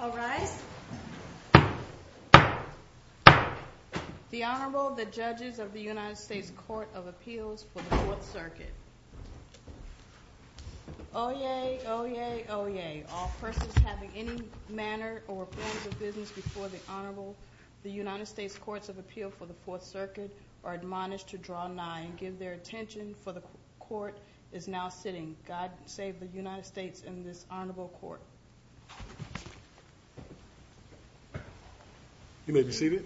I'll rise The Honorable the Judges of the United States Court of Appeals for the Fourth Circuit Oyez, oyez, oyez. All persons having any manner or forms of business before the Honorable the United States Courts of Appeal for the Fourth Circuit are admonished to draw nigh and give their attention for the court is now sitting. God save the United States in this honorable court You may be seated.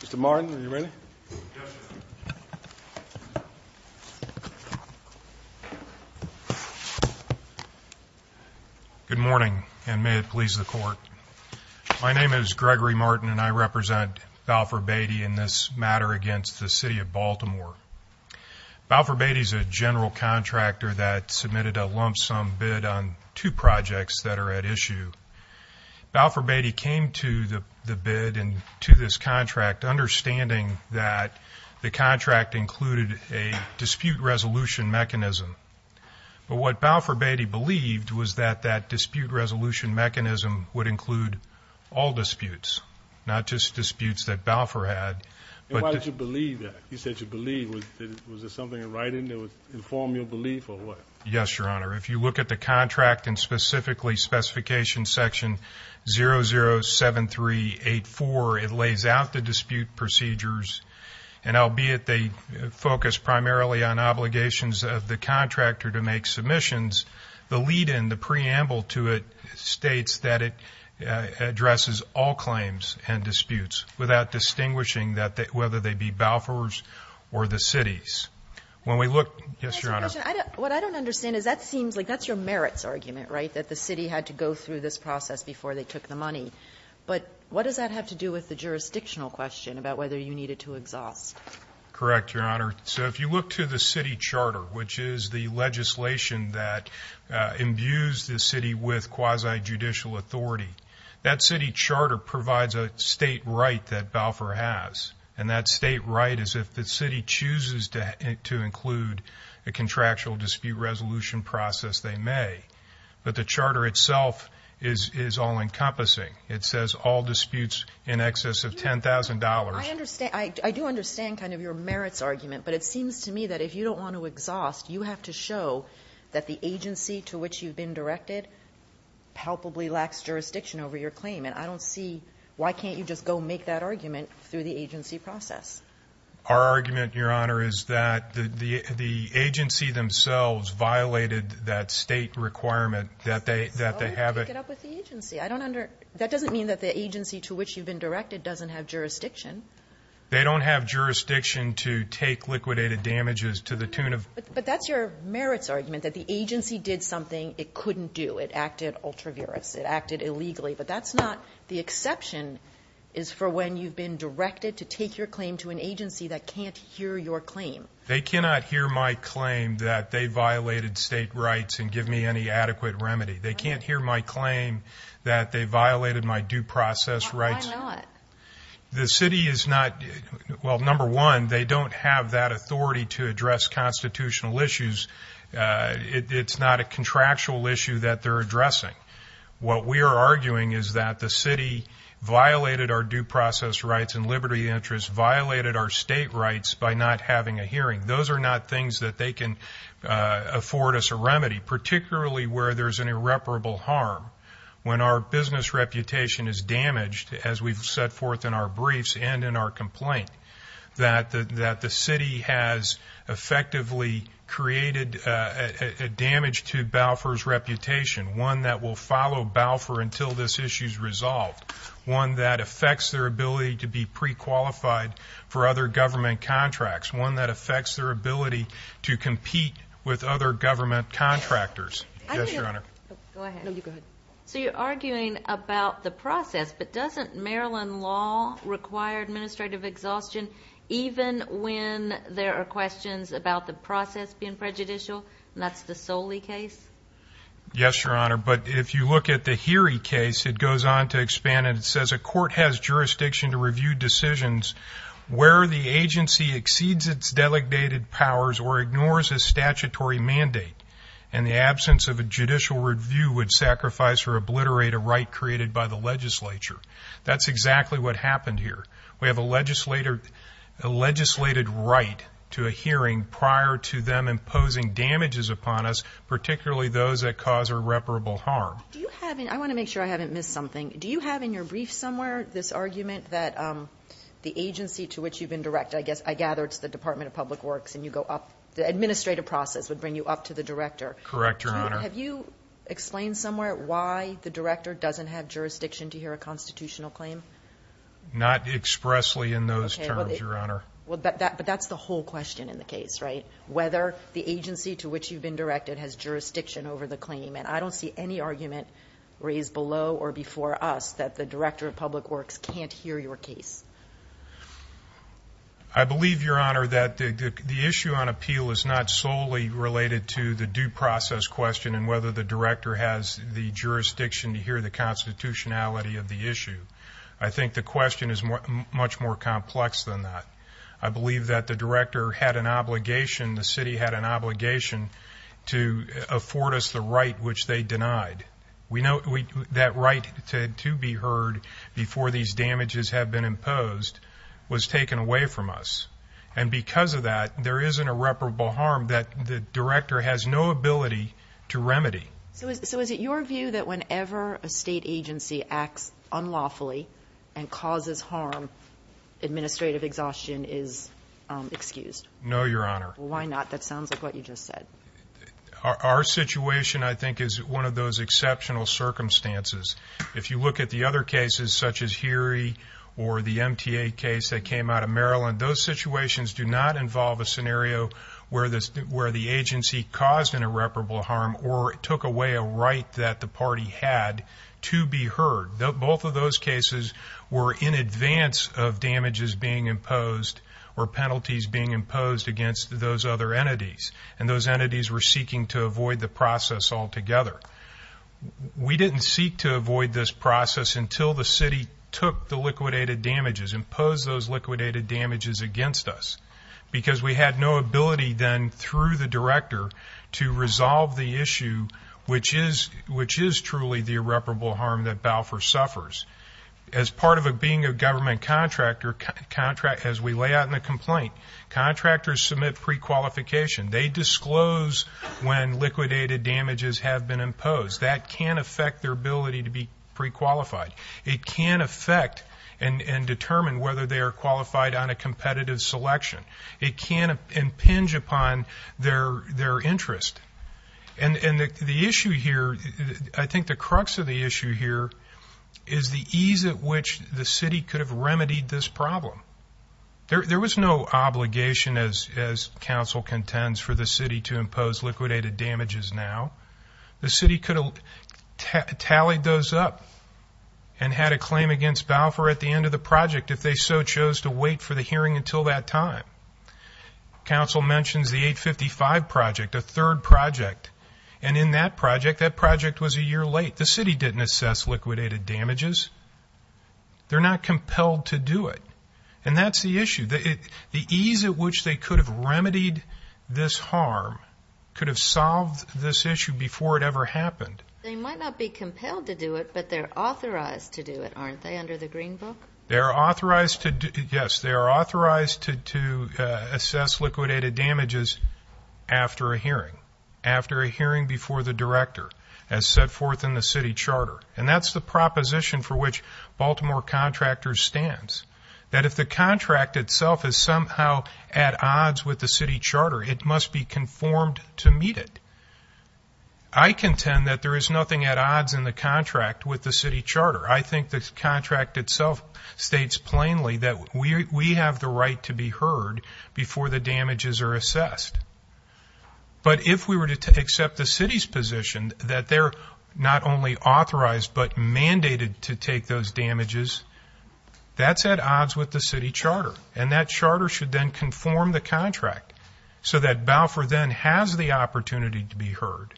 Mr. Martin, are you ready? Good morning and may it please the court. My name is Gregory Martin and I represent Balfour Beatty in this matter against the City of Baltimore. Balfour Beatty is a general contractor that submitted a lump sum bid on two projects that are at issue. Balfour Beatty came to the bid and to this contract understanding that the contract included a dispute resolution mechanism but what Balfour Beatty believed was that that dispute resolution mechanism would include all disputes not just disputes that Balfour had. Why did you believe that? You said you believe was there something in writing that would inform your belief or what? Yes, your honor. If you look at the contract and specifically specification section 007384 it lays out the dispute procedures and albeit they focus primarily on obligations of the contractor to make submissions the lead-in the preamble to it states that it addresses all claims and disputes without distinguishing that whether they be Balfour's or the city's. When we look, yes your honor, what I don't understand is that seems like that's your merits argument right that the city had to go through this process before they took the money but what does that have to do with the jurisdictional question about whether you needed to exhaust? Correct, your honor. So if you look to the city charter which is the legislation that imbues the city with quasi-judicial authority that city charter provides a state right that Balfour has and that state right is if the city chooses to include a contractual dispute resolution process they may but the charter itself is all-encompassing. It says all disputes in excess of ten thousand dollars. I understand, I do understand kind of your merits argument but it seems to me that if you don't want to exhaust you have to show that the agency to which you've been directed palpably lacks jurisdiction over your claim and I don't see why can't you just go make that argument through the agency process. Our argument your honor is that the the agency themselves violated that state requirement that they that they have it up with the agency. I don't under that doesn't mean that the agency to which you've been directed doesn't have jurisdiction. They don't have jurisdiction to take liquidated damages to the tune of. But that's your merits argument that the agency did something it couldn't do. It acted ultraviolence. It acted illegally but that's not the exception is for when you've been directed to take your claim to an agency that can't hear your claim. They cannot hear my claim that they violated state rights and give me any adequate remedy. They can't hear my claim that they violated my due process rights. Why not? The city is not well number one they don't have that authority to address constitutional issues. It's not a contractual issue that they're addressing. What we are arguing is that the city violated our due process rights and liberty interests violated our state rights by not having a hearing. Those are not things that they can afford us a remedy particularly where there's an irreparable harm. When our business reputation is damaged as we've set forth in our briefs and our complaint that the that the city has effectively created a damage to Balfour's reputation. One that will follow Balfour until this issue is resolved. One that affects their ability to be pre-qualified for other government contracts. One that affects their ability to compete with other government contractors. Yes your honor. Go ahead. No you go ahead. So you're arguing about the process but doesn't Maryland law require administrative exhaustion even when there are questions about the process being prejudicial and that's the Soli case? Yes your honor but if you look at the Heery case it goes on to expand and it says a court has jurisdiction to review decisions where the agency exceeds its delegated powers or ignores a or obliterate a right created by the legislature. That's exactly what happened here. We have a legislated right to a hearing prior to them imposing damages upon us particularly those that cause irreparable harm. Do you have in I want to make sure I haven't missed something. Do you have in your brief somewhere this argument that the agency to which you've been directed I guess I gather it's the department of public works and you go up the administrative process would bring you up to the director. Correct your honor. Have you explained somewhere why the director doesn't have jurisdiction to hear a constitutional claim? Not expressly in those terms your honor. Well that but that's the whole question in the case right whether the agency to which you've been directed has jurisdiction over the claim and I don't see any argument raised below or before us that the director of public works can't hear your case. I believe your honor that the issue on appeal is not solely related to the due process question and whether the director has the jurisdiction to hear the constitutionality of the issue. I think the question is much more complex than that. I believe that the director had an obligation the city had an obligation to afford us the right which they denied. We know that right to be heard before these damages have been imposed was taken away from us and because of that there isn't a reparable harm that the director has no ability to remedy. So is it your view that whenever a state agency acts unlawfully and causes harm administrative exhaustion is excused? No your honor. Why not that sounds like what you just said. Our situation I think is one of those exceptional circumstances. If you look at the other cases such as Heary or the MTA case that came out of Maryland those situations do not involve a scenario where this where the agency caused an irreparable harm or it took away a right that the party had to be heard. Both of those cases were in advance of damages being imposed or penalties being imposed against those other entities and those entities were seeking to avoid the process altogether. We didn't seek to avoid this process until the city took the liquidated damages imposed those liquidated damages against us because we had no ability then through the director to resolve the issue which is which is truly the irreparable harm that Balfour suffers. As part of a being a government contractor as we lay out in the complaint contractors submit pre-qualification. They disclose when liquidated damages have been imposed. That can affect their ability to be pre-qualified. It can affect and determine whether they are qualified on a competitive selection. It can impinge upon their interest and the issue here I think the crux of the issue here is the ease at which the city could have remedied this problem. There was no obligation as council contends for the city to impose liquidated damages now. The city could have tallied those up and had a claim against Balfour at the end of the project if they so chose to wait for the hearing until that time. Council mentions the 855 project a third project and in that project that project was a year late. The city didn't assess liquidated damages. They're not compelled to do it and that's the issue. The ease at which they could have remedied this harm could have solved this issue before it ever happened. They might not be compelled to do it but they're authorized to do it aren't they under the green book? They are authorized to do yes they are authorized to assess liquidated damages after a hearing. After a hearing before the director as set forth in the city charter and that's the proposition for which Baltimore contractors stands. That if the contract itself is somehow at odds with the city charter it must be conformed to meet it. I contend that there is nothing at odds in the contract with the city charter. I think the But if we were to accept the city's position that they're not only authorized but mandated to take those damages that's at odds with the city charter and that charter should then conform the contract so that Balfour then has the opportunity to be heard.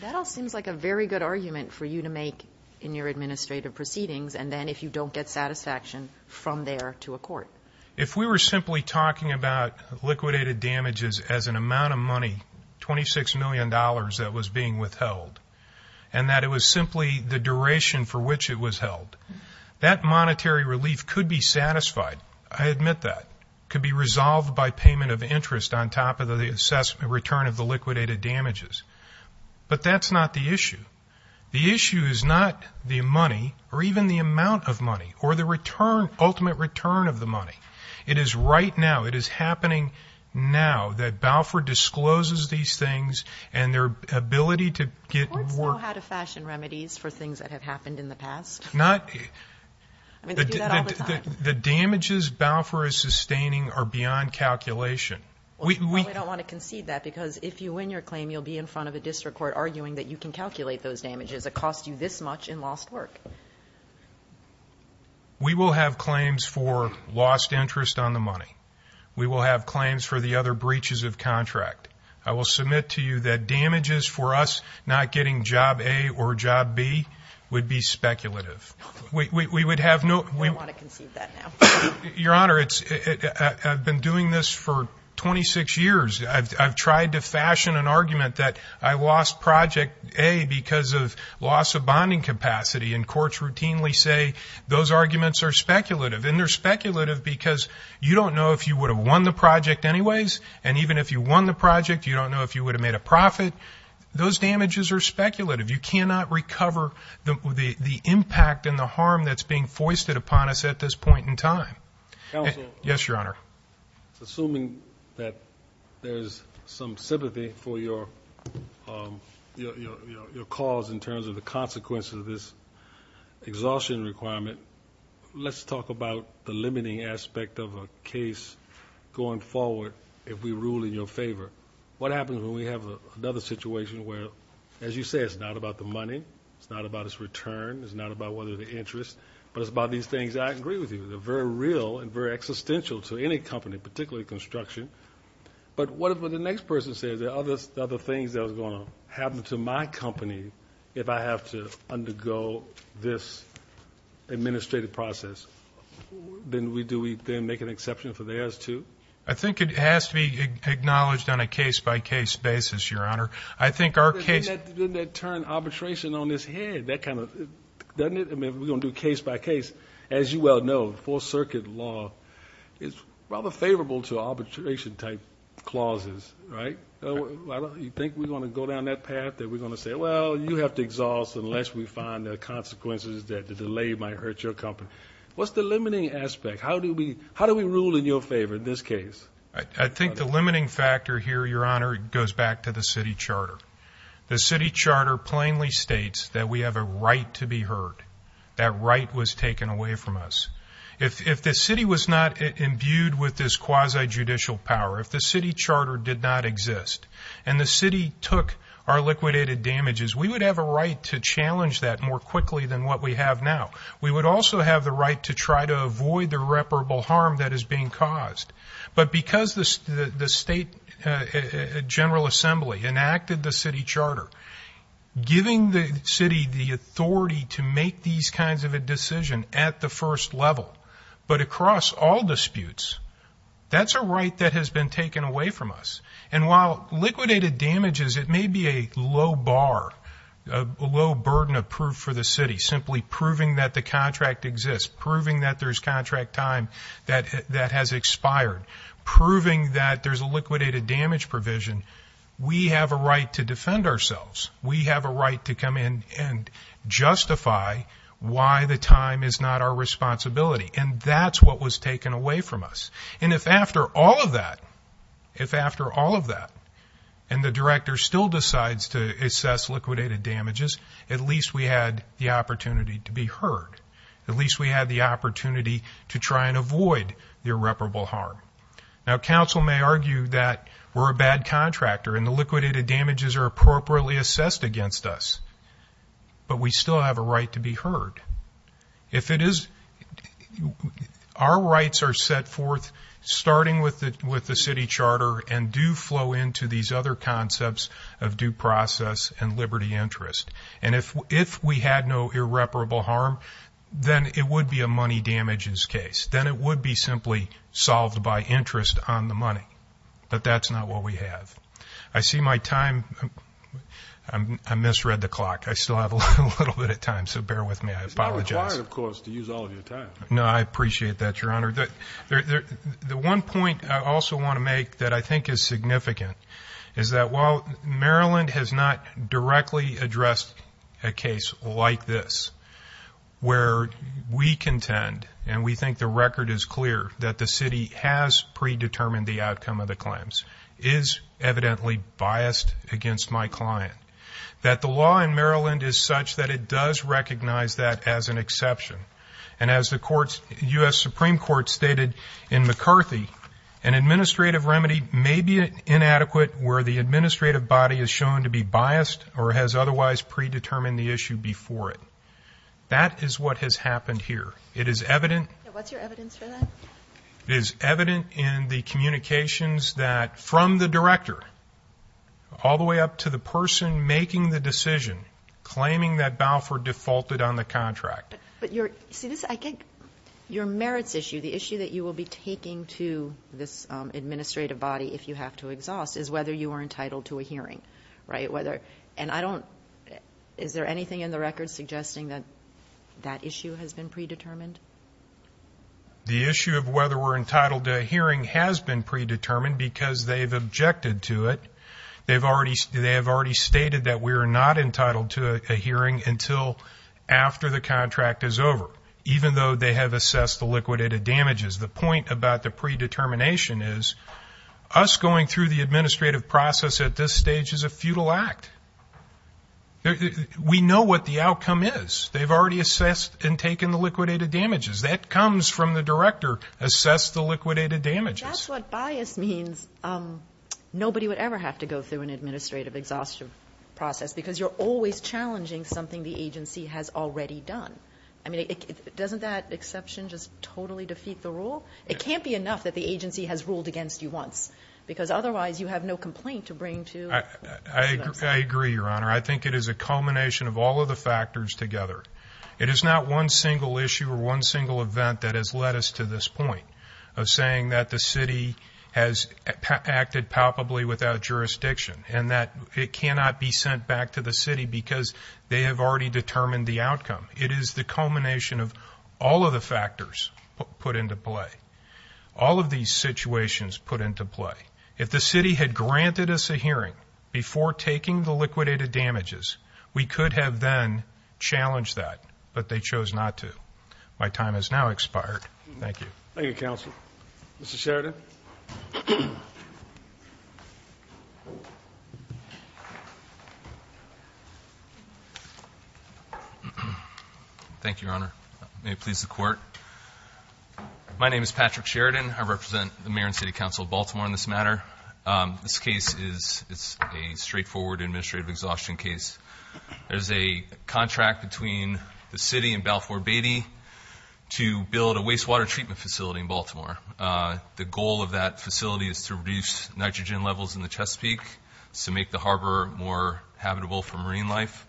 That all seems like a very good argument for you to make in your administrative proceedings and then if you don't get satisfaction from there If we were simply talking about liquidated damages as an amount of money 26 million dollars that was being withheld and that it was simply the duration for which it was held that monetary relief could be satisfied I admit that could be resolved by payment of interest on top of the assessment return of the liquidated damages but that's not the issue. The issue is not the money or even the return of the money. It is right now, it is happening now that Balfour discloses these things and their ability to get work. The courts know how to fashion remedies for things that have happened in the past. I mean they do that all the time. The damages Balfour is sustaining are beyond calculation. We don't want to concede that because if you win your claim you'll be in front of a district court arguing that you can calculate those damages that cost you this much in lost work. We will have claims for lost interest on the money. We will have claims for the other breaches of contract. I will submit to you that damages for us not getting job A or job B would be speculative. We would have no... We don't want to concede that now. Your Honor, I've been doing this for 26 years. I've tried to fashion an argument that I lost project A because of loss of bonding capacity and courts routinely say those arguments are speculative and they're speculative because you don't know if you would have won the project anyways and even if you won the project you don't know if you would have made a profit. Those damages are speculative. You cannot recover the impact and the harm that's being foisted upon us at this point in time. Counsel? Yes, Your Honor. Assuming that there's some sympathy for your cause in terms of the consequences of this exhaustion requirement, let's talk about the limiting aspect of a case going forward if we rule in your favor. What happens when we have another situation where, as you say, it's not about the money, it's not about its return, it's not about whether the interest, but it's about these things that I agree with you. They're very real and very existential to any company, particularly construction. But what if the next person says there are other things that are going to happen to my company if I have to undergo this administrative process? Then do we make an exception for theirs too? I think it has to be acknowledged on a case-by-case basis, Your Honor. Doesn't that turn arbitration on its head? Doesn't it? I mean, we're going to do case-by-case. As you well know, Fourth Circuit law is rather favorable to arbitration-type clauses, right? You think we're going to go down that path? That we're going to say, well, you have to exhaust unless we find the consequences that the delay might hurt your company? What's the limiting aspect? How do we rule in your favor in this case? I think the limiting factor here, Your Honor, goes back to the city charter. The city charter plainly states that we have a right to be heard. That right was taken away from us. If the city was not imbued with this quasi-judicial power, if the city charter did not exist, and the city took our liquidated damages, we would have a right to challenge that more quickly than what we have now. We would also have the right to try to avoid the irreparable harm that is being caused. But because the state general assembly enacted the city charter, giving the city the authority to make these kinds of a decision at the first level, but across all disputes, that's a right that has been taken away from us. And while liquidated damages, it may be a low bar, a low burden of proof for the city, simply proving that the contract exists, proving that there's contract time that has expired, proving that there's a liquidated damage provision, we have a right to defend ourselves. We have a right to come in and justify why the time is not our responsibility. And that's what was taken away from us. And if after all of that, if after all of that, and the director still decides to assess liquidated damages, at least we had the opportunity to be heard. At least we had the opportunity to try and avoid the irreparable harm. Now, council may argue that we're a bad contractor and the liquidated damages are appropriately assessed against us, but we still have a right to be heard. If it is, our rights are set forth starting with the city charter and do flow into these other concepts of due process and liberty interest. And if we had no irreparable harm, then it would be a money damages case. Then it would be simply solved by interest on the money. But that's not what we have. I see my time. I misread the clock. I still have a little bit of time, so bear with me. I apologize. It's not required, of course, to use all of your time. No, I appreciate that, Your Honor. The one point I also want to make that I think is significant is that while Maryland has not directly addressed a case like this, where we contend and we think the record is clear that the city has predetermined the outcome of the claims is evidently biased against my client, that the law in Maryland is such that it does recognize that as an exception. And as the U.S. Supreme Court stated in McCarthy, an administrative remedy may be inadequate where the administrative body is shown to be biased or has otherwise predetermined the issue before it. That is what has happened here. What's your evidence for that? It is evident in the communications from the director all the way up to the person making the decision claiming that Balfour defaulted on the contract. But your merits issue, the issue that you will be taking to this administrative body if you have to exhaust, is whether you are entitled to a hearing. And is there anything in the record suggesting that that issue has been predetermined? The issue of whether we're entitled to a hearing has been predetermined because they've objected to it. They have already stated that we are not entitled to a hearing until after the contract is over, even though they have assessed the liquidated damages. The point about the predetermination is us going through the administrative process at this stage is a futile act. We know what the outcome is. They've already assessed and taken the liquidated damages. That comes from the director, assess the liquidated damages. That's what bias means. Nobody would ever have to go through an administrative exhaustion process because you're always challenging something the agency has already done. Doesn't that exception just totally defeat the rule? It can't be enough that the agency has ruled against you once. Because otherwise you have no complaint to bring to... I agree, Your Honor. I think it is a culmination of all of the factors together. It is not one single issue or one single event that has led us to this point of saying that the city has acted palpably without jurisdiction and that it cannot be sent back to the city because they have already determined the outcome. It is the culmination of all of the factors put into play. All of these situations put into play. If the city had granted us a hearing before taking the liquidated damages, we could have then challenged that. But they chose not to. My time has now expired. Thank you. Thank you, Counsel. Mr. Sheridan. Thank you, Your Honor. May it please the Court. My name is Patrick Sheridan. I represent the Mayor and City Council of Baltimore in this matter. This case is a straightforward administrative exhaustion case. There's a contract between the city and Balfour Beatty to build a wastewater treatment facility in Baltimore. The goal of that facility is to reduce nitrogen levels in the Chesapeake to make the harbor more habitable for marine life.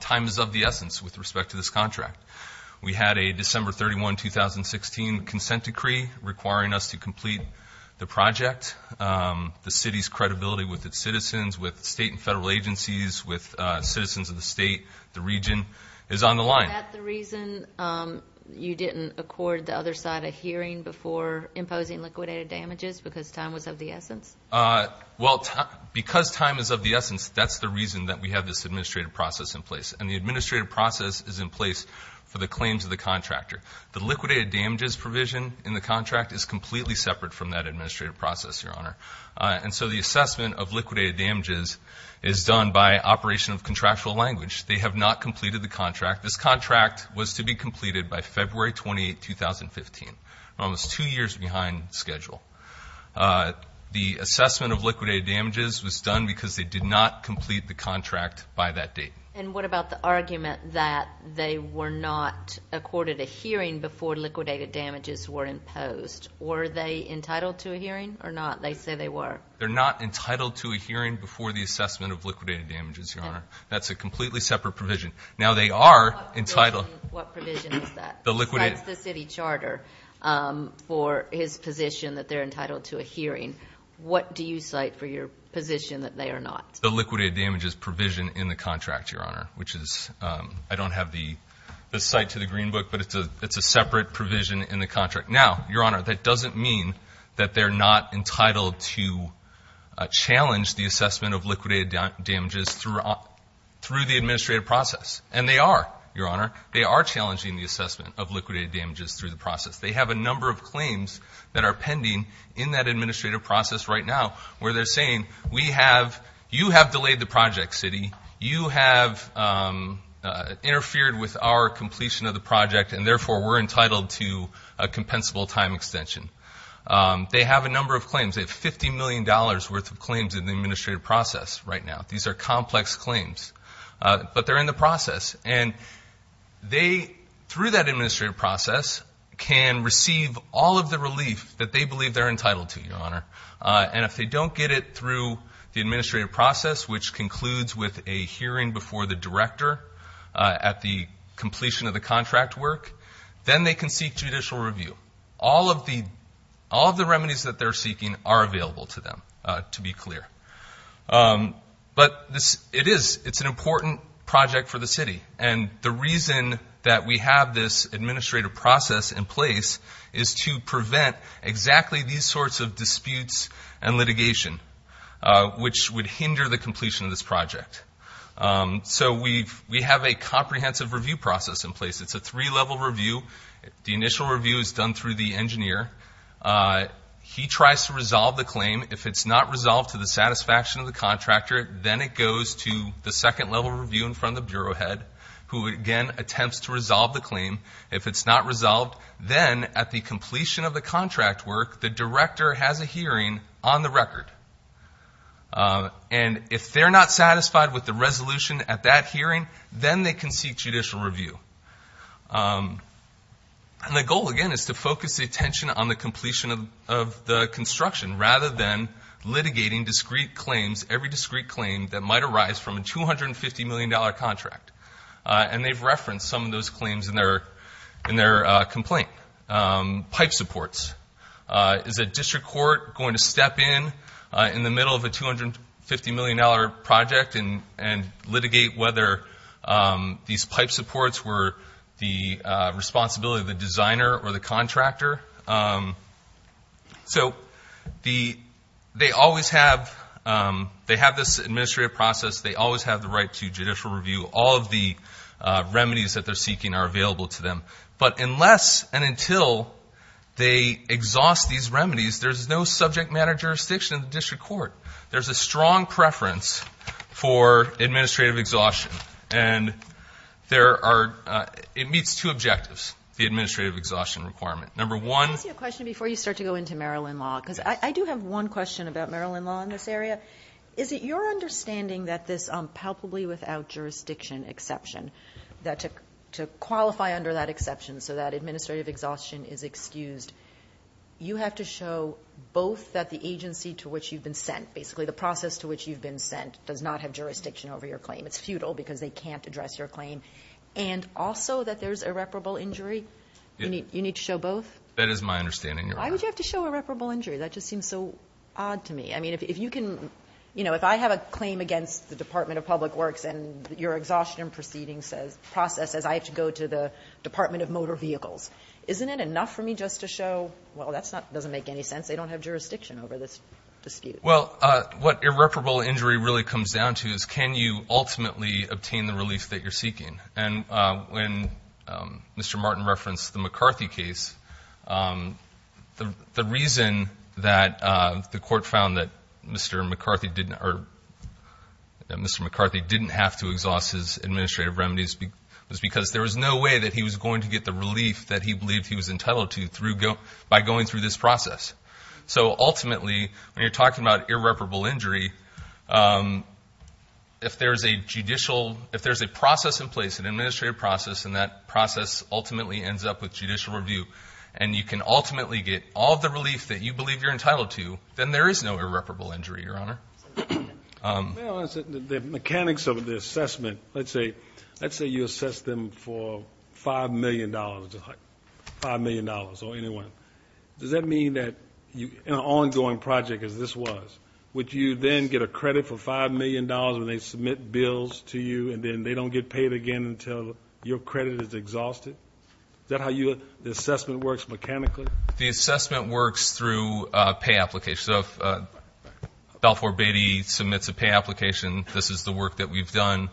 Time is of the essence with respect to this contract. We had a December 31, 2016 consent decree requiring us to complete the project. The city's credibility with its citizens, with state and federal agencies, with citizens of the state, the region, is on the line. Is that the reason you didn't accord the other side a hearing before imposing liquidated damages because time was of the essence? Well, because time is of the essence, that's the reason that we have this administrative process in place. And the administrative process is in place for the claims of the contractor. The liquidated damages provision in the contract is completely separate from that administrative process, Your Honor. And so the assessment of liquidated damages is done by operation of contractual language. They have not completed the contract. This contract was to be completed by February 28, 2015, almost two years behind schedule. The assessment of liquidated damages was done because they did not complete the contract by that date. And what about the argument that they were not accorded a hearing before liquidated damages were imposed? Were they entitled to a hearing or not? They say they were. They're not entitled to a hearing before the assessment of liquidated damages, Your Honor. That's a completely separate provision. Now, they are entitled... What provision is that? It cites the city charter for his position that they're entitled to a hearing. What do you cite for your position that they are not? The liquidated damages provision in the contract, Your Honor, which is, I don't have the cite to the Green Book, but it's a separate provision in the contract. Now, Your Honor, that doesn't mean that they're not entitled to challenge the assessment of liquidated damages through the administrative process. And they are, Your Honor. They are challenging the assessment of liquidated damages through the process. They have a number of claims that are pending in that administrative process right now where they're saying, you have delayed the project, city. You have interfered with our completion of the project, and therefore we're entitled to a compensable time extension. They have a number of claims. They have $50 million worth of claims in the administrative process right now. These are complex claims. But they're in the process. And they, through that administrative process, can receive all of the relief that they believe they're entitled to, Your Honor. And if they don't get it through the administrative process, which concludes with a hearing before the director at the completion of the contract work, then they can seek judicial review. All of the remedies that they're seeking are available to them, to be clear. But it is. It's an important project for the city. And the reason that we have this administrative process in place is to prevent exactly these sorts of disputes and litigation, which would hinder the completion of this project. So we have a comprehensive review process in place. It's a three-level review. The initial review is done through the engineer. He tries to resolve the claim. If it's not resolved to the satisfaction of the contractor, then it goes to the second-level review in front of the bureau head, who again attempts to resolve the claim. If it's not resolved, then at the completion of the contract work, the director has a hearing on the record. And if they're not satisfied with the resolution at that hearing, then they can seek judicial review. And the goal, again, is to focus attention on the completion of the construction, rather than litigating discrete claims, every discrete claim that might arise from a $250 million contract. And they've referenced some of those claims in their complaint. Pipe supports. Is a district court going to step in, in the middle of a $250 million project, and litigate whether these pipe supports were the responsibility of the designer or the contractor? So they always have this administrative process. They always have the right to judicial review. All of the remedies that they're seeking are available to them. But unless and until they exhaust these remedies, there's no subject matter jurisdiction in the district court. There's a strong preference for administrative exhaustion. And it meets two objectives, the administrative exhaustion requirement. Number one— Can I ask you a question before you start to go into Maryland law? Because I do have one question about Maryland law in this area. Is it your understanding that this palpably without jurisdiction exception, that to qualify under that exception so that administrative exhaustion is excused, you have to show both that the agency to which you've been sent, basically the process to which you've been sent, does not have jurisdiction over your claim. It's futile because they can't address your claim. And also that there's irreparable injury? You need to show both? That is my understanding, Your Honor. Why would you have to show irreparable injury? That just seems so odd to me. I mean, if you can— You know, if I have a claim against the Department of Public Works and your exhaustion proceeding process says I have to go to the Department of Motor Vehicles, isn't it enough for me just to show, well, that doesn't make any sense. They don't have jurisdiction over this dispute. Well, what irreparable injury really comes down to is can you ultimately obtain the relief that you're seeking? And when Mr. Martin referenced the McCarthy case, the reason that the Court found that Mr. McCarthy didn't have to exhaust his administrative remedies was because there was no way that he was going to get the relief that he believed he was entitled to by going through this process. So ultimately, when you're talking about irreparable injury, if there's a judicial—if there's a process in place, an administrative process, and that process ultimately ends up with judicial review, and you can ultimately get all the relief that you believe you're entitled to, then there is no irreparable injury, Your Honor. The mechanics of the assessment, let's say you assess them for $5 million, $5 million or anywhere, does that mean that in an ongoing project as this was, would you then get a credit for $5 million when they submit bills to you and then they don't get paid again until your credit is exhausted? Is that how the assessment works mechanically? The assessment works through pay applications. So if Balfour Beatty submits a pay application, this is the work that we've done.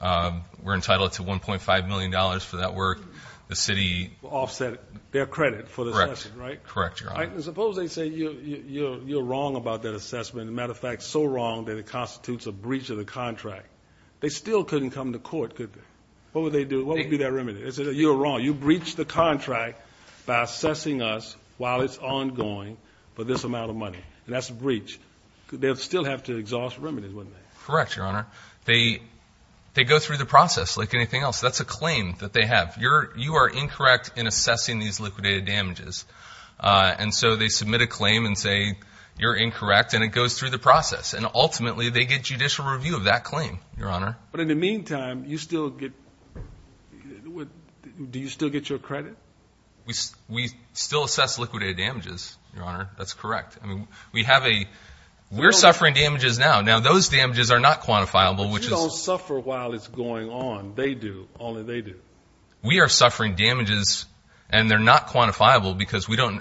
We're entitled to $1.5 million for that work. The city— Offset their credit for the assessment, right? Correct, Your Honor. Suppose they say you're wrong about that assessment, as a matter of fact, so wrong that it constitutes a breach of the contract. They still couldn't come to court, could they? What would they do? What would be their remedy? You're wrong. You breach the contract by assessing us while it's ongoing for this amount of money, and that's a breach. They'd still have to exhaust remedies, wouldn't they? Correct, Your Honor. They go through the process like anything else. That's a claim that they have. You are incorrect in assessing these liquidated damages. And so they submit a claim and say you're incorrect, and it goes through the process, and ultimately they get judicial review of that claim, Your Honor. But in the meantime, you still get—do you still get your credit? We still assess liquidated damages, Your Honor. That's correct. I mean, we have a—we're suffering damages now. Now, those damages are not quantifiable, which is— But you don't suffer while it's going on. They do. Only they do. We are suffering damages, and they're not quantifiable because we don't—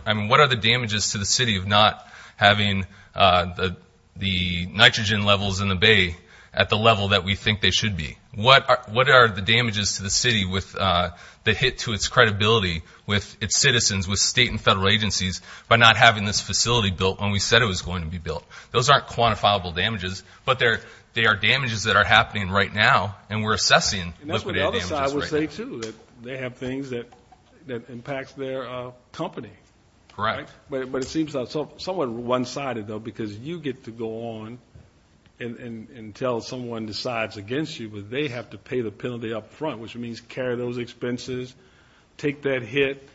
that we think they should be. What are the damages to the city that hit to its credibility with its citizens, with state and federal agencies, by not having this facility built when we said it was going to be built? Those aren't quantifiable damages, but they are damages that are happening right now, and we're assessing liquidated damages right now. And that's what the other side would say, too, that they have things that impact their company. Correct. But it seems somewhat one-sided, though, because you get to go on and tell someone decides against you, but they have to pay the penalty up front, which means carry those expenses, take that hit,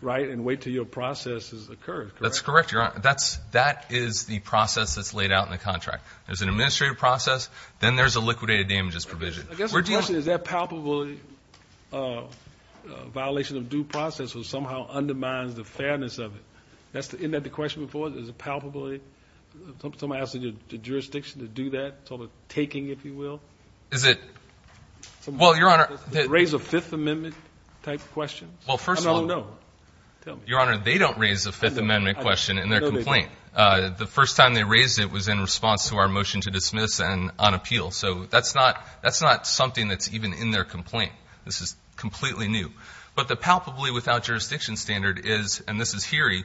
right, and wait until your process has occurred, correct? That's correct, Your Honor. That is the process that's laid out in the contract. There's an administrative process. Then there's a liquidated damages provision. I guess the question is, is that palpably a violation of due process or somehow undermines the fairness of it? Isn't that the question before? Is it palpably somebody asking the jurisdiction to do that sort of taking, if you will? Is it? Well, Your Honor— Does it raise a Fifth Amendment-type question? Well, first of all— I don't know. Tell me. Your Honor, they don't raise a Fifth Amendment question in their complaint. The first time they raised it was in response to our motion to dismiss and on appeal. So that's not something that's even in their complaint. This is completely new. But the palpably without jurisdiction standard is—and this is Heery—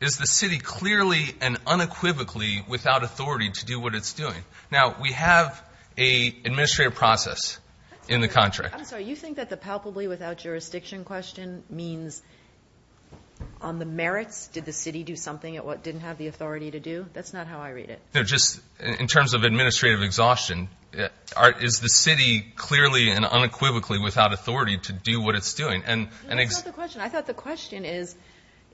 is the city clearly and unequivocally without authority to do what it's doing. Now, we have an administrative process in the contract. I'm sorry. You think that the palpably without jurisdiction question means on the merits did the city do something it didn't have the authority to do? That's not how I read it. No, just in terms of administrative exhaustion, is the city clearly and unequivocally without authority to do what it's doing? That's not the question. I thought the question is,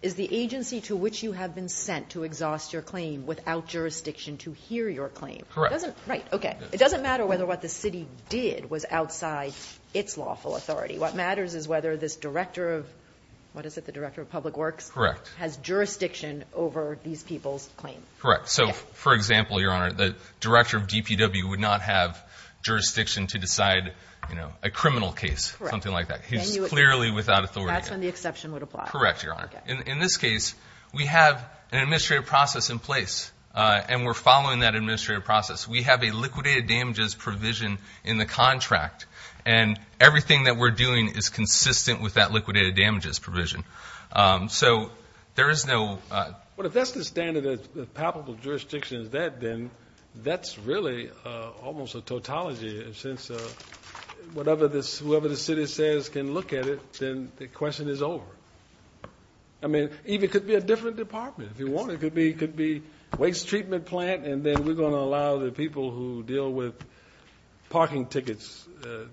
is the agency to which you have been sent to exhaust your claim without jurisdiction to hear your claim? Correct. Right. Okay. It doesn't matter whether what the city did was outside its lawful authority. What matters is whether this director of—what is it? The director of public works? Correct. Has jurisdiction over these people's claim. Correct. So, for example, Your Honor, the director of DPW would not have jurisdiction to decide a criminal case, something like that. He's clearly without authority. That's when the exception would apply. Correct, Your Honor. In this case, we have an administrative process in place, and we're following that administrative process. We have a liquidated damages provision in the contract, and everything that we're doing is consistent with that liquidated damages provision. So there is no— Well, if that's the standard that palpable jurisdiction is that, then that's really almost a tautology, since whatever the city says can look at it, then the question is over. I mean, even it could be a different department. If you want, it could be waste treatment plant, and then we're going to allow the people who deal with parking tickets,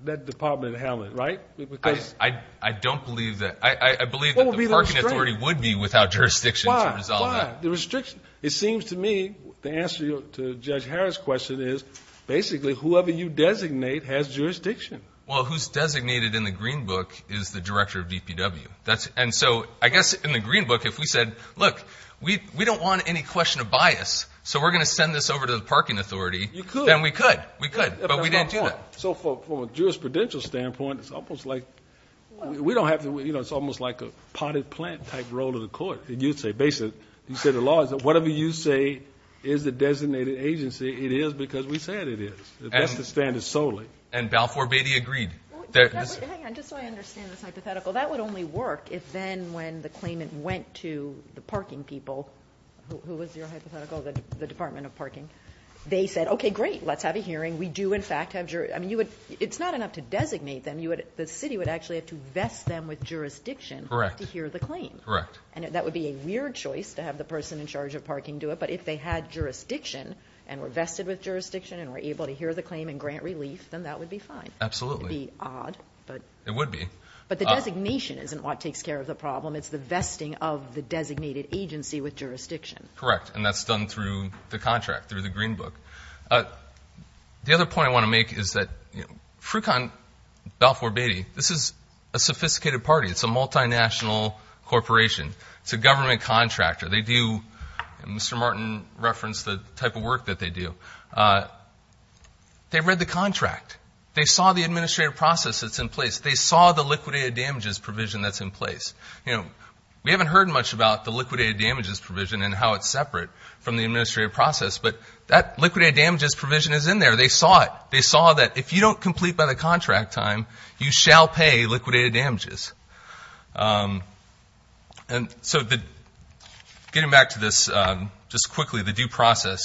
that department, handle it, right? I don't believe that. I believe that the parking authority would be without jurisdiction to resolve that. Why? Why? The restriction. It seems to me the answer to Judge Harris' question is basically whoever you designate has jurisdiction. Well, who's designated in the Green Book is the director of DPW. And so I guess in the Green Book, if we said, look, we don't want any question of bias, so we're going to send this over to the parking authority, then we could. We could. But we didn't do that. So from a jurisprudential standpoint, it's almost like we don't have to, you know, it's almost like a potted plant type role to the court. You'd say basically, you say the law is that whatever you say is the designated agency, it is because we said it is. That's the standard solely. And Balfour Beatty agreed. Hang on. Just so I understand this hypothetical, that would only work if then when the claimant went to the parking people, who was your hypothetical, the Department of Parking, they said, okay, great, let's have a hearing. I mean, it's not enough to designate them. The city would actually have to vest them with jurisdiction to hear the claim. Correct. And that would be a weird choice to have the person in charge of parking do it. But if they had jurisdiction and were vested with jurisdiction and were able to hear the claim and grant relief, then that would be fine. Absolutely. It would be odd. It would be. But the designation isn't what takes care of the problem. It's the vesting of the designated agency with jurisdiction. Correct. And that's done through the contract, through the Green Book. The other point I want to make is that Frucon, Balfour Beatty, this is a sophisticated party. It's a multinational corporation. It's a government contractor. They do, Mr. Martin referenced the type of work that they do. They read the contract. They saw the administrative process that's in place. They saw the liquidated damages provision that's in place. You know, we haven't heard much about the liquidated damages provision and how it's separate from the administrative process. But that liquidated damages provision is in there. They saw it. They saw that if you don't complete by the contract time, you shall pay liquidated damages. And so getting back to this just quickly, the due process,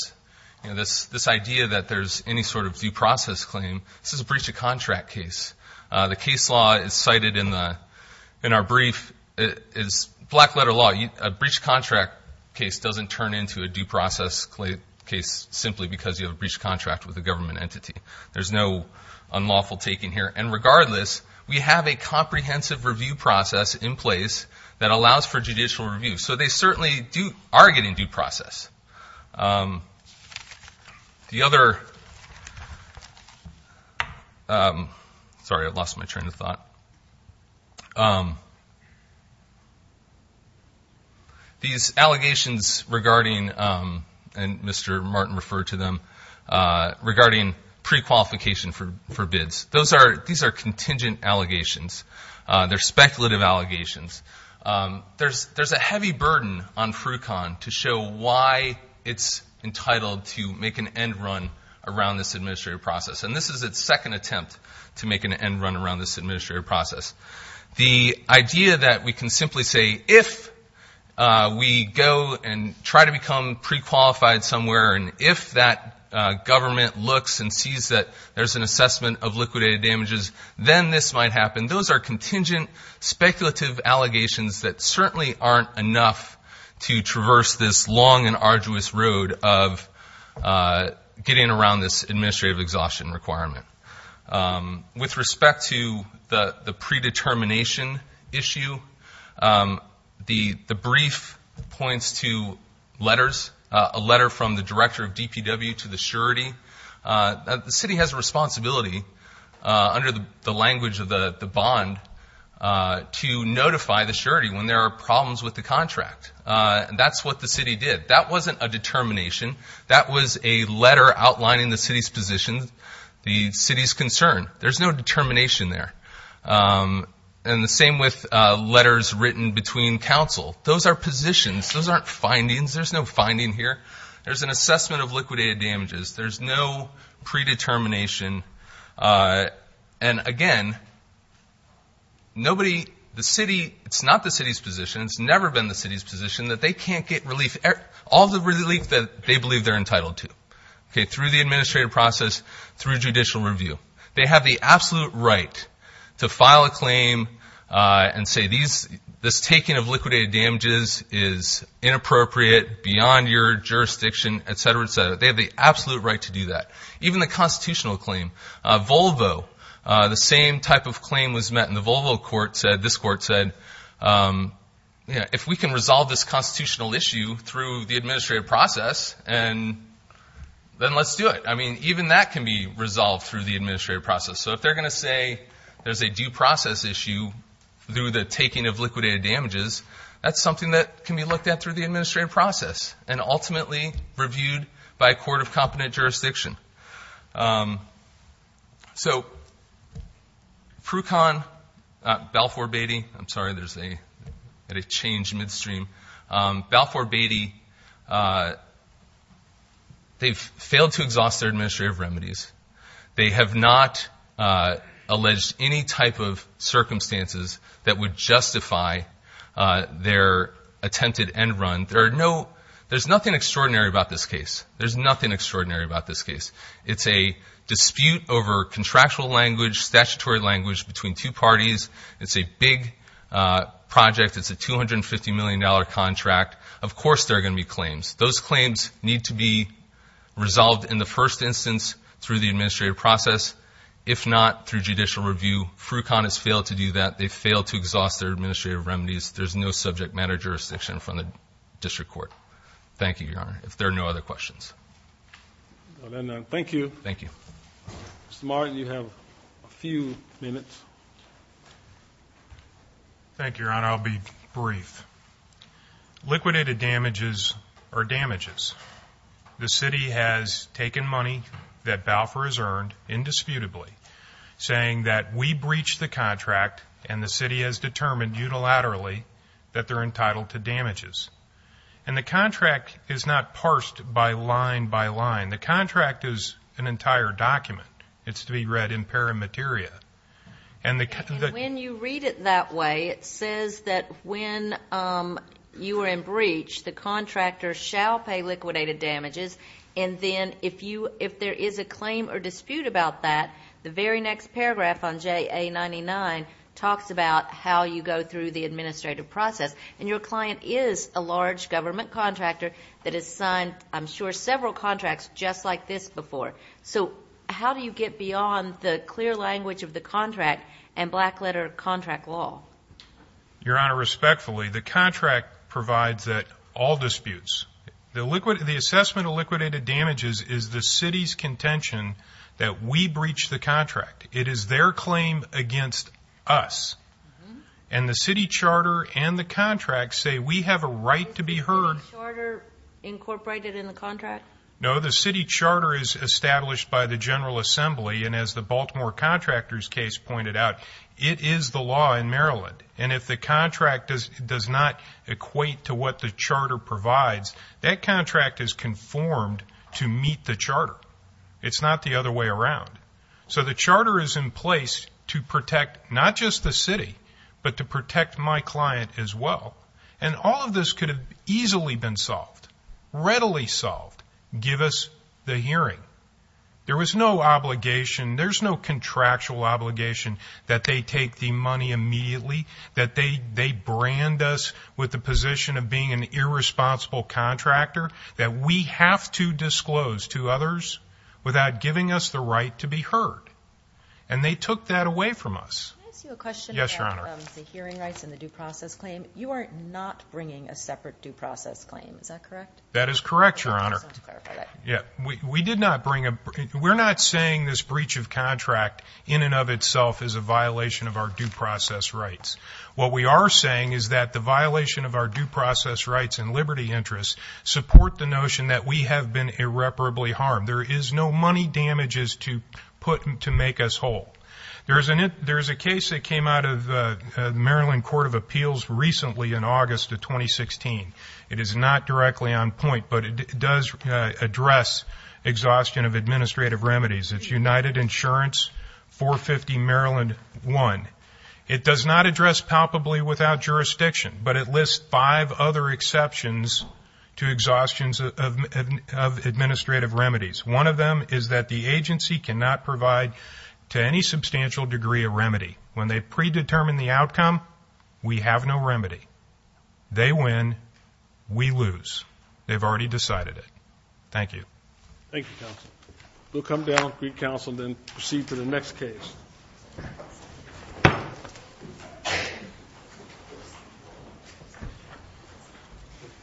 this idea that there's any sort of due process claim, this is a breach of contract case. The case law is cited in our brief. It's black-letter law. A breach of contract case doesn't turn into a due process case simply because you have a breach of contract with a government entity. There's no unlawful taking here. And regardless, we have a comprehensive review process in place that allows for judicial review. So they certainly are getting due process. The other ‑‑ sorry, I lost my train of thought. These allegations regarding, and Mr. Martin referred to them, regarding prequalification for bids, these are contingent allegations. They're speculative allegations. There's a heavy burden on Frucon to show why it's entitled to make an end run around this administrative process. And this is its second attempt to make an end run around this administrative process. The idea that we can simply say if we go and try to become prequalified somewhere and if that government looks and sees that there's an assessment of liquidated damages, then this might happen. And those are contingent, speculative allegations that certainly aren't enough to traverse this long and arduous road of getting around this administrative exhaustion requirement. With respect to the predetermination issue, the brief points to letters, a letter from the director of DPW to the surety. The city has a responsibility under the language of the bond to notify the surety when there are problems with the contract. That's what the city did. That wasn't a determination. That was a letter outlining the city's position, the city's concern. There's no determination there. And the same with letters written between council. Those are positions. Those aren't findings. There's no finding here. There's an assessment of liquidated damages. There's no predetermination. And, again, nobody, the city, it's not the city's position, it's never been the city's position that they can't get relief, all the relief that they believe they're entitled to, okay, through the administrative process, through judicial review. They have the absolute right to file a claim and say this taking of liquidated damages is inappropriate, beyond your jurisdiction, et cetera, et cetera. They have the absolute right to do that. Even the constitutional claim, Volvo, the same type of claim was met, and the Volvo court said, this court said, if we can resolve this constitutional issue through the administrative process, then let's do it. I mean, even that can be resolved through the administrative process. So if they're going to say there's a due process issue through the taking of liquidated damages, that's something that can be looked at through the administrative process and ultimately reviewed by a court of competent jurisdiction. So Prukan, Balfour Beatty, I'm sorry, there's a change midstream. Balfour Beatty, they've failed to exhaust their administrative remedies. They have not alleged any type of circumstances that would justify their attempted end run. There's nothing extraordinary about this case. There's nothing extraordinary about this case. It's a dispute over contractual language, statutory language between two parties. It's a big project. It's a $250 million contract. Of course there are going to be claims. Those claims need to be resolved in the first instance through the administrative process. If not, through judicial review, Prukan has failed to do that. They've failed to exhaust their administrative remedies. There's no subject matter jurisdiction from the district court. Thank you, Your Honor. If there are no other questions. Thank you. Thank you. Mr. Martin, you have a few minutes. Thank you, Your Honor. I'll be brief. Liquidated damages are damages. The city has taken money that Balfour has earned indisputably, saying that we breached the contract and the city has determined unilaterally that they're entitled to damages. And the contract is not parsed by line by line. The contract is an entire document. It's to be read in pari materia. And when you read it that way, it says that when you are in breach, the contractor shall pay liquidated damages. And then if there is a claim or dispute about that, the very next paragraph on JA99 talks about how you go through the administrative process. And your client is a large government contractor that has signed, I'm sure, several contracts just like this before. So how do you get beyond the clear language of the contract and black letter contract law? Your Honor, respectfully, the contract provides all disputes. The assessment of liquidated damages is the city's contention that we breached the contract. It is their claim against us. And the city charter and the contract say we have a right to be heard. Is the city charter incorporated in the contract? No, the city charter is established by the General Assembly, and as the Baltimore Contractors case pointed out, it is the law in Maryland. And if the contract does not equate to what the charter provides, that contract is conformed to meet the charter. It's not the other way around. So the charter is in place to protect not just the city, but to protect my client as well. And all of this could have easily been solved, readily solved, give us the hearing. There was no obligation, there's no contractual obligation that they take the money immediately, that they brand us with the position of being an irresponsible contractor, that we have to disclose to others without giving us the right to be heard. And they took that away from us. Can I ask you a question about the hearing rights and the due process claim? You are not bringing a separate due process claim, is that correct? That is correct, Your Honor. We're not saying this breach of contract in and of itself is a violation of our due process rights. What we are saying is that the violation of our due process rights and liberty interests support the notion that we have been irreparably harmed. There is no money damages to make us whole. There is a case that came out of the Maryland Court of Appeals recently in August of 2016. It is not directly on point, but it does address exhaustion of administrative remedies. It's United Insurance, 450 Maryland 1. It does not address palpably without jurisdiction, but it lists five other exceptions to exhaustions of administrative remedies. One of them is that the agency cannot provide to any substantial degree of remedy. When they predetermine the outcome, we have no remedy. They win, we lose. They've already decided it. Thank you. Thank you, counsel. We'll come down, greet counsel, and then proceed to the next case.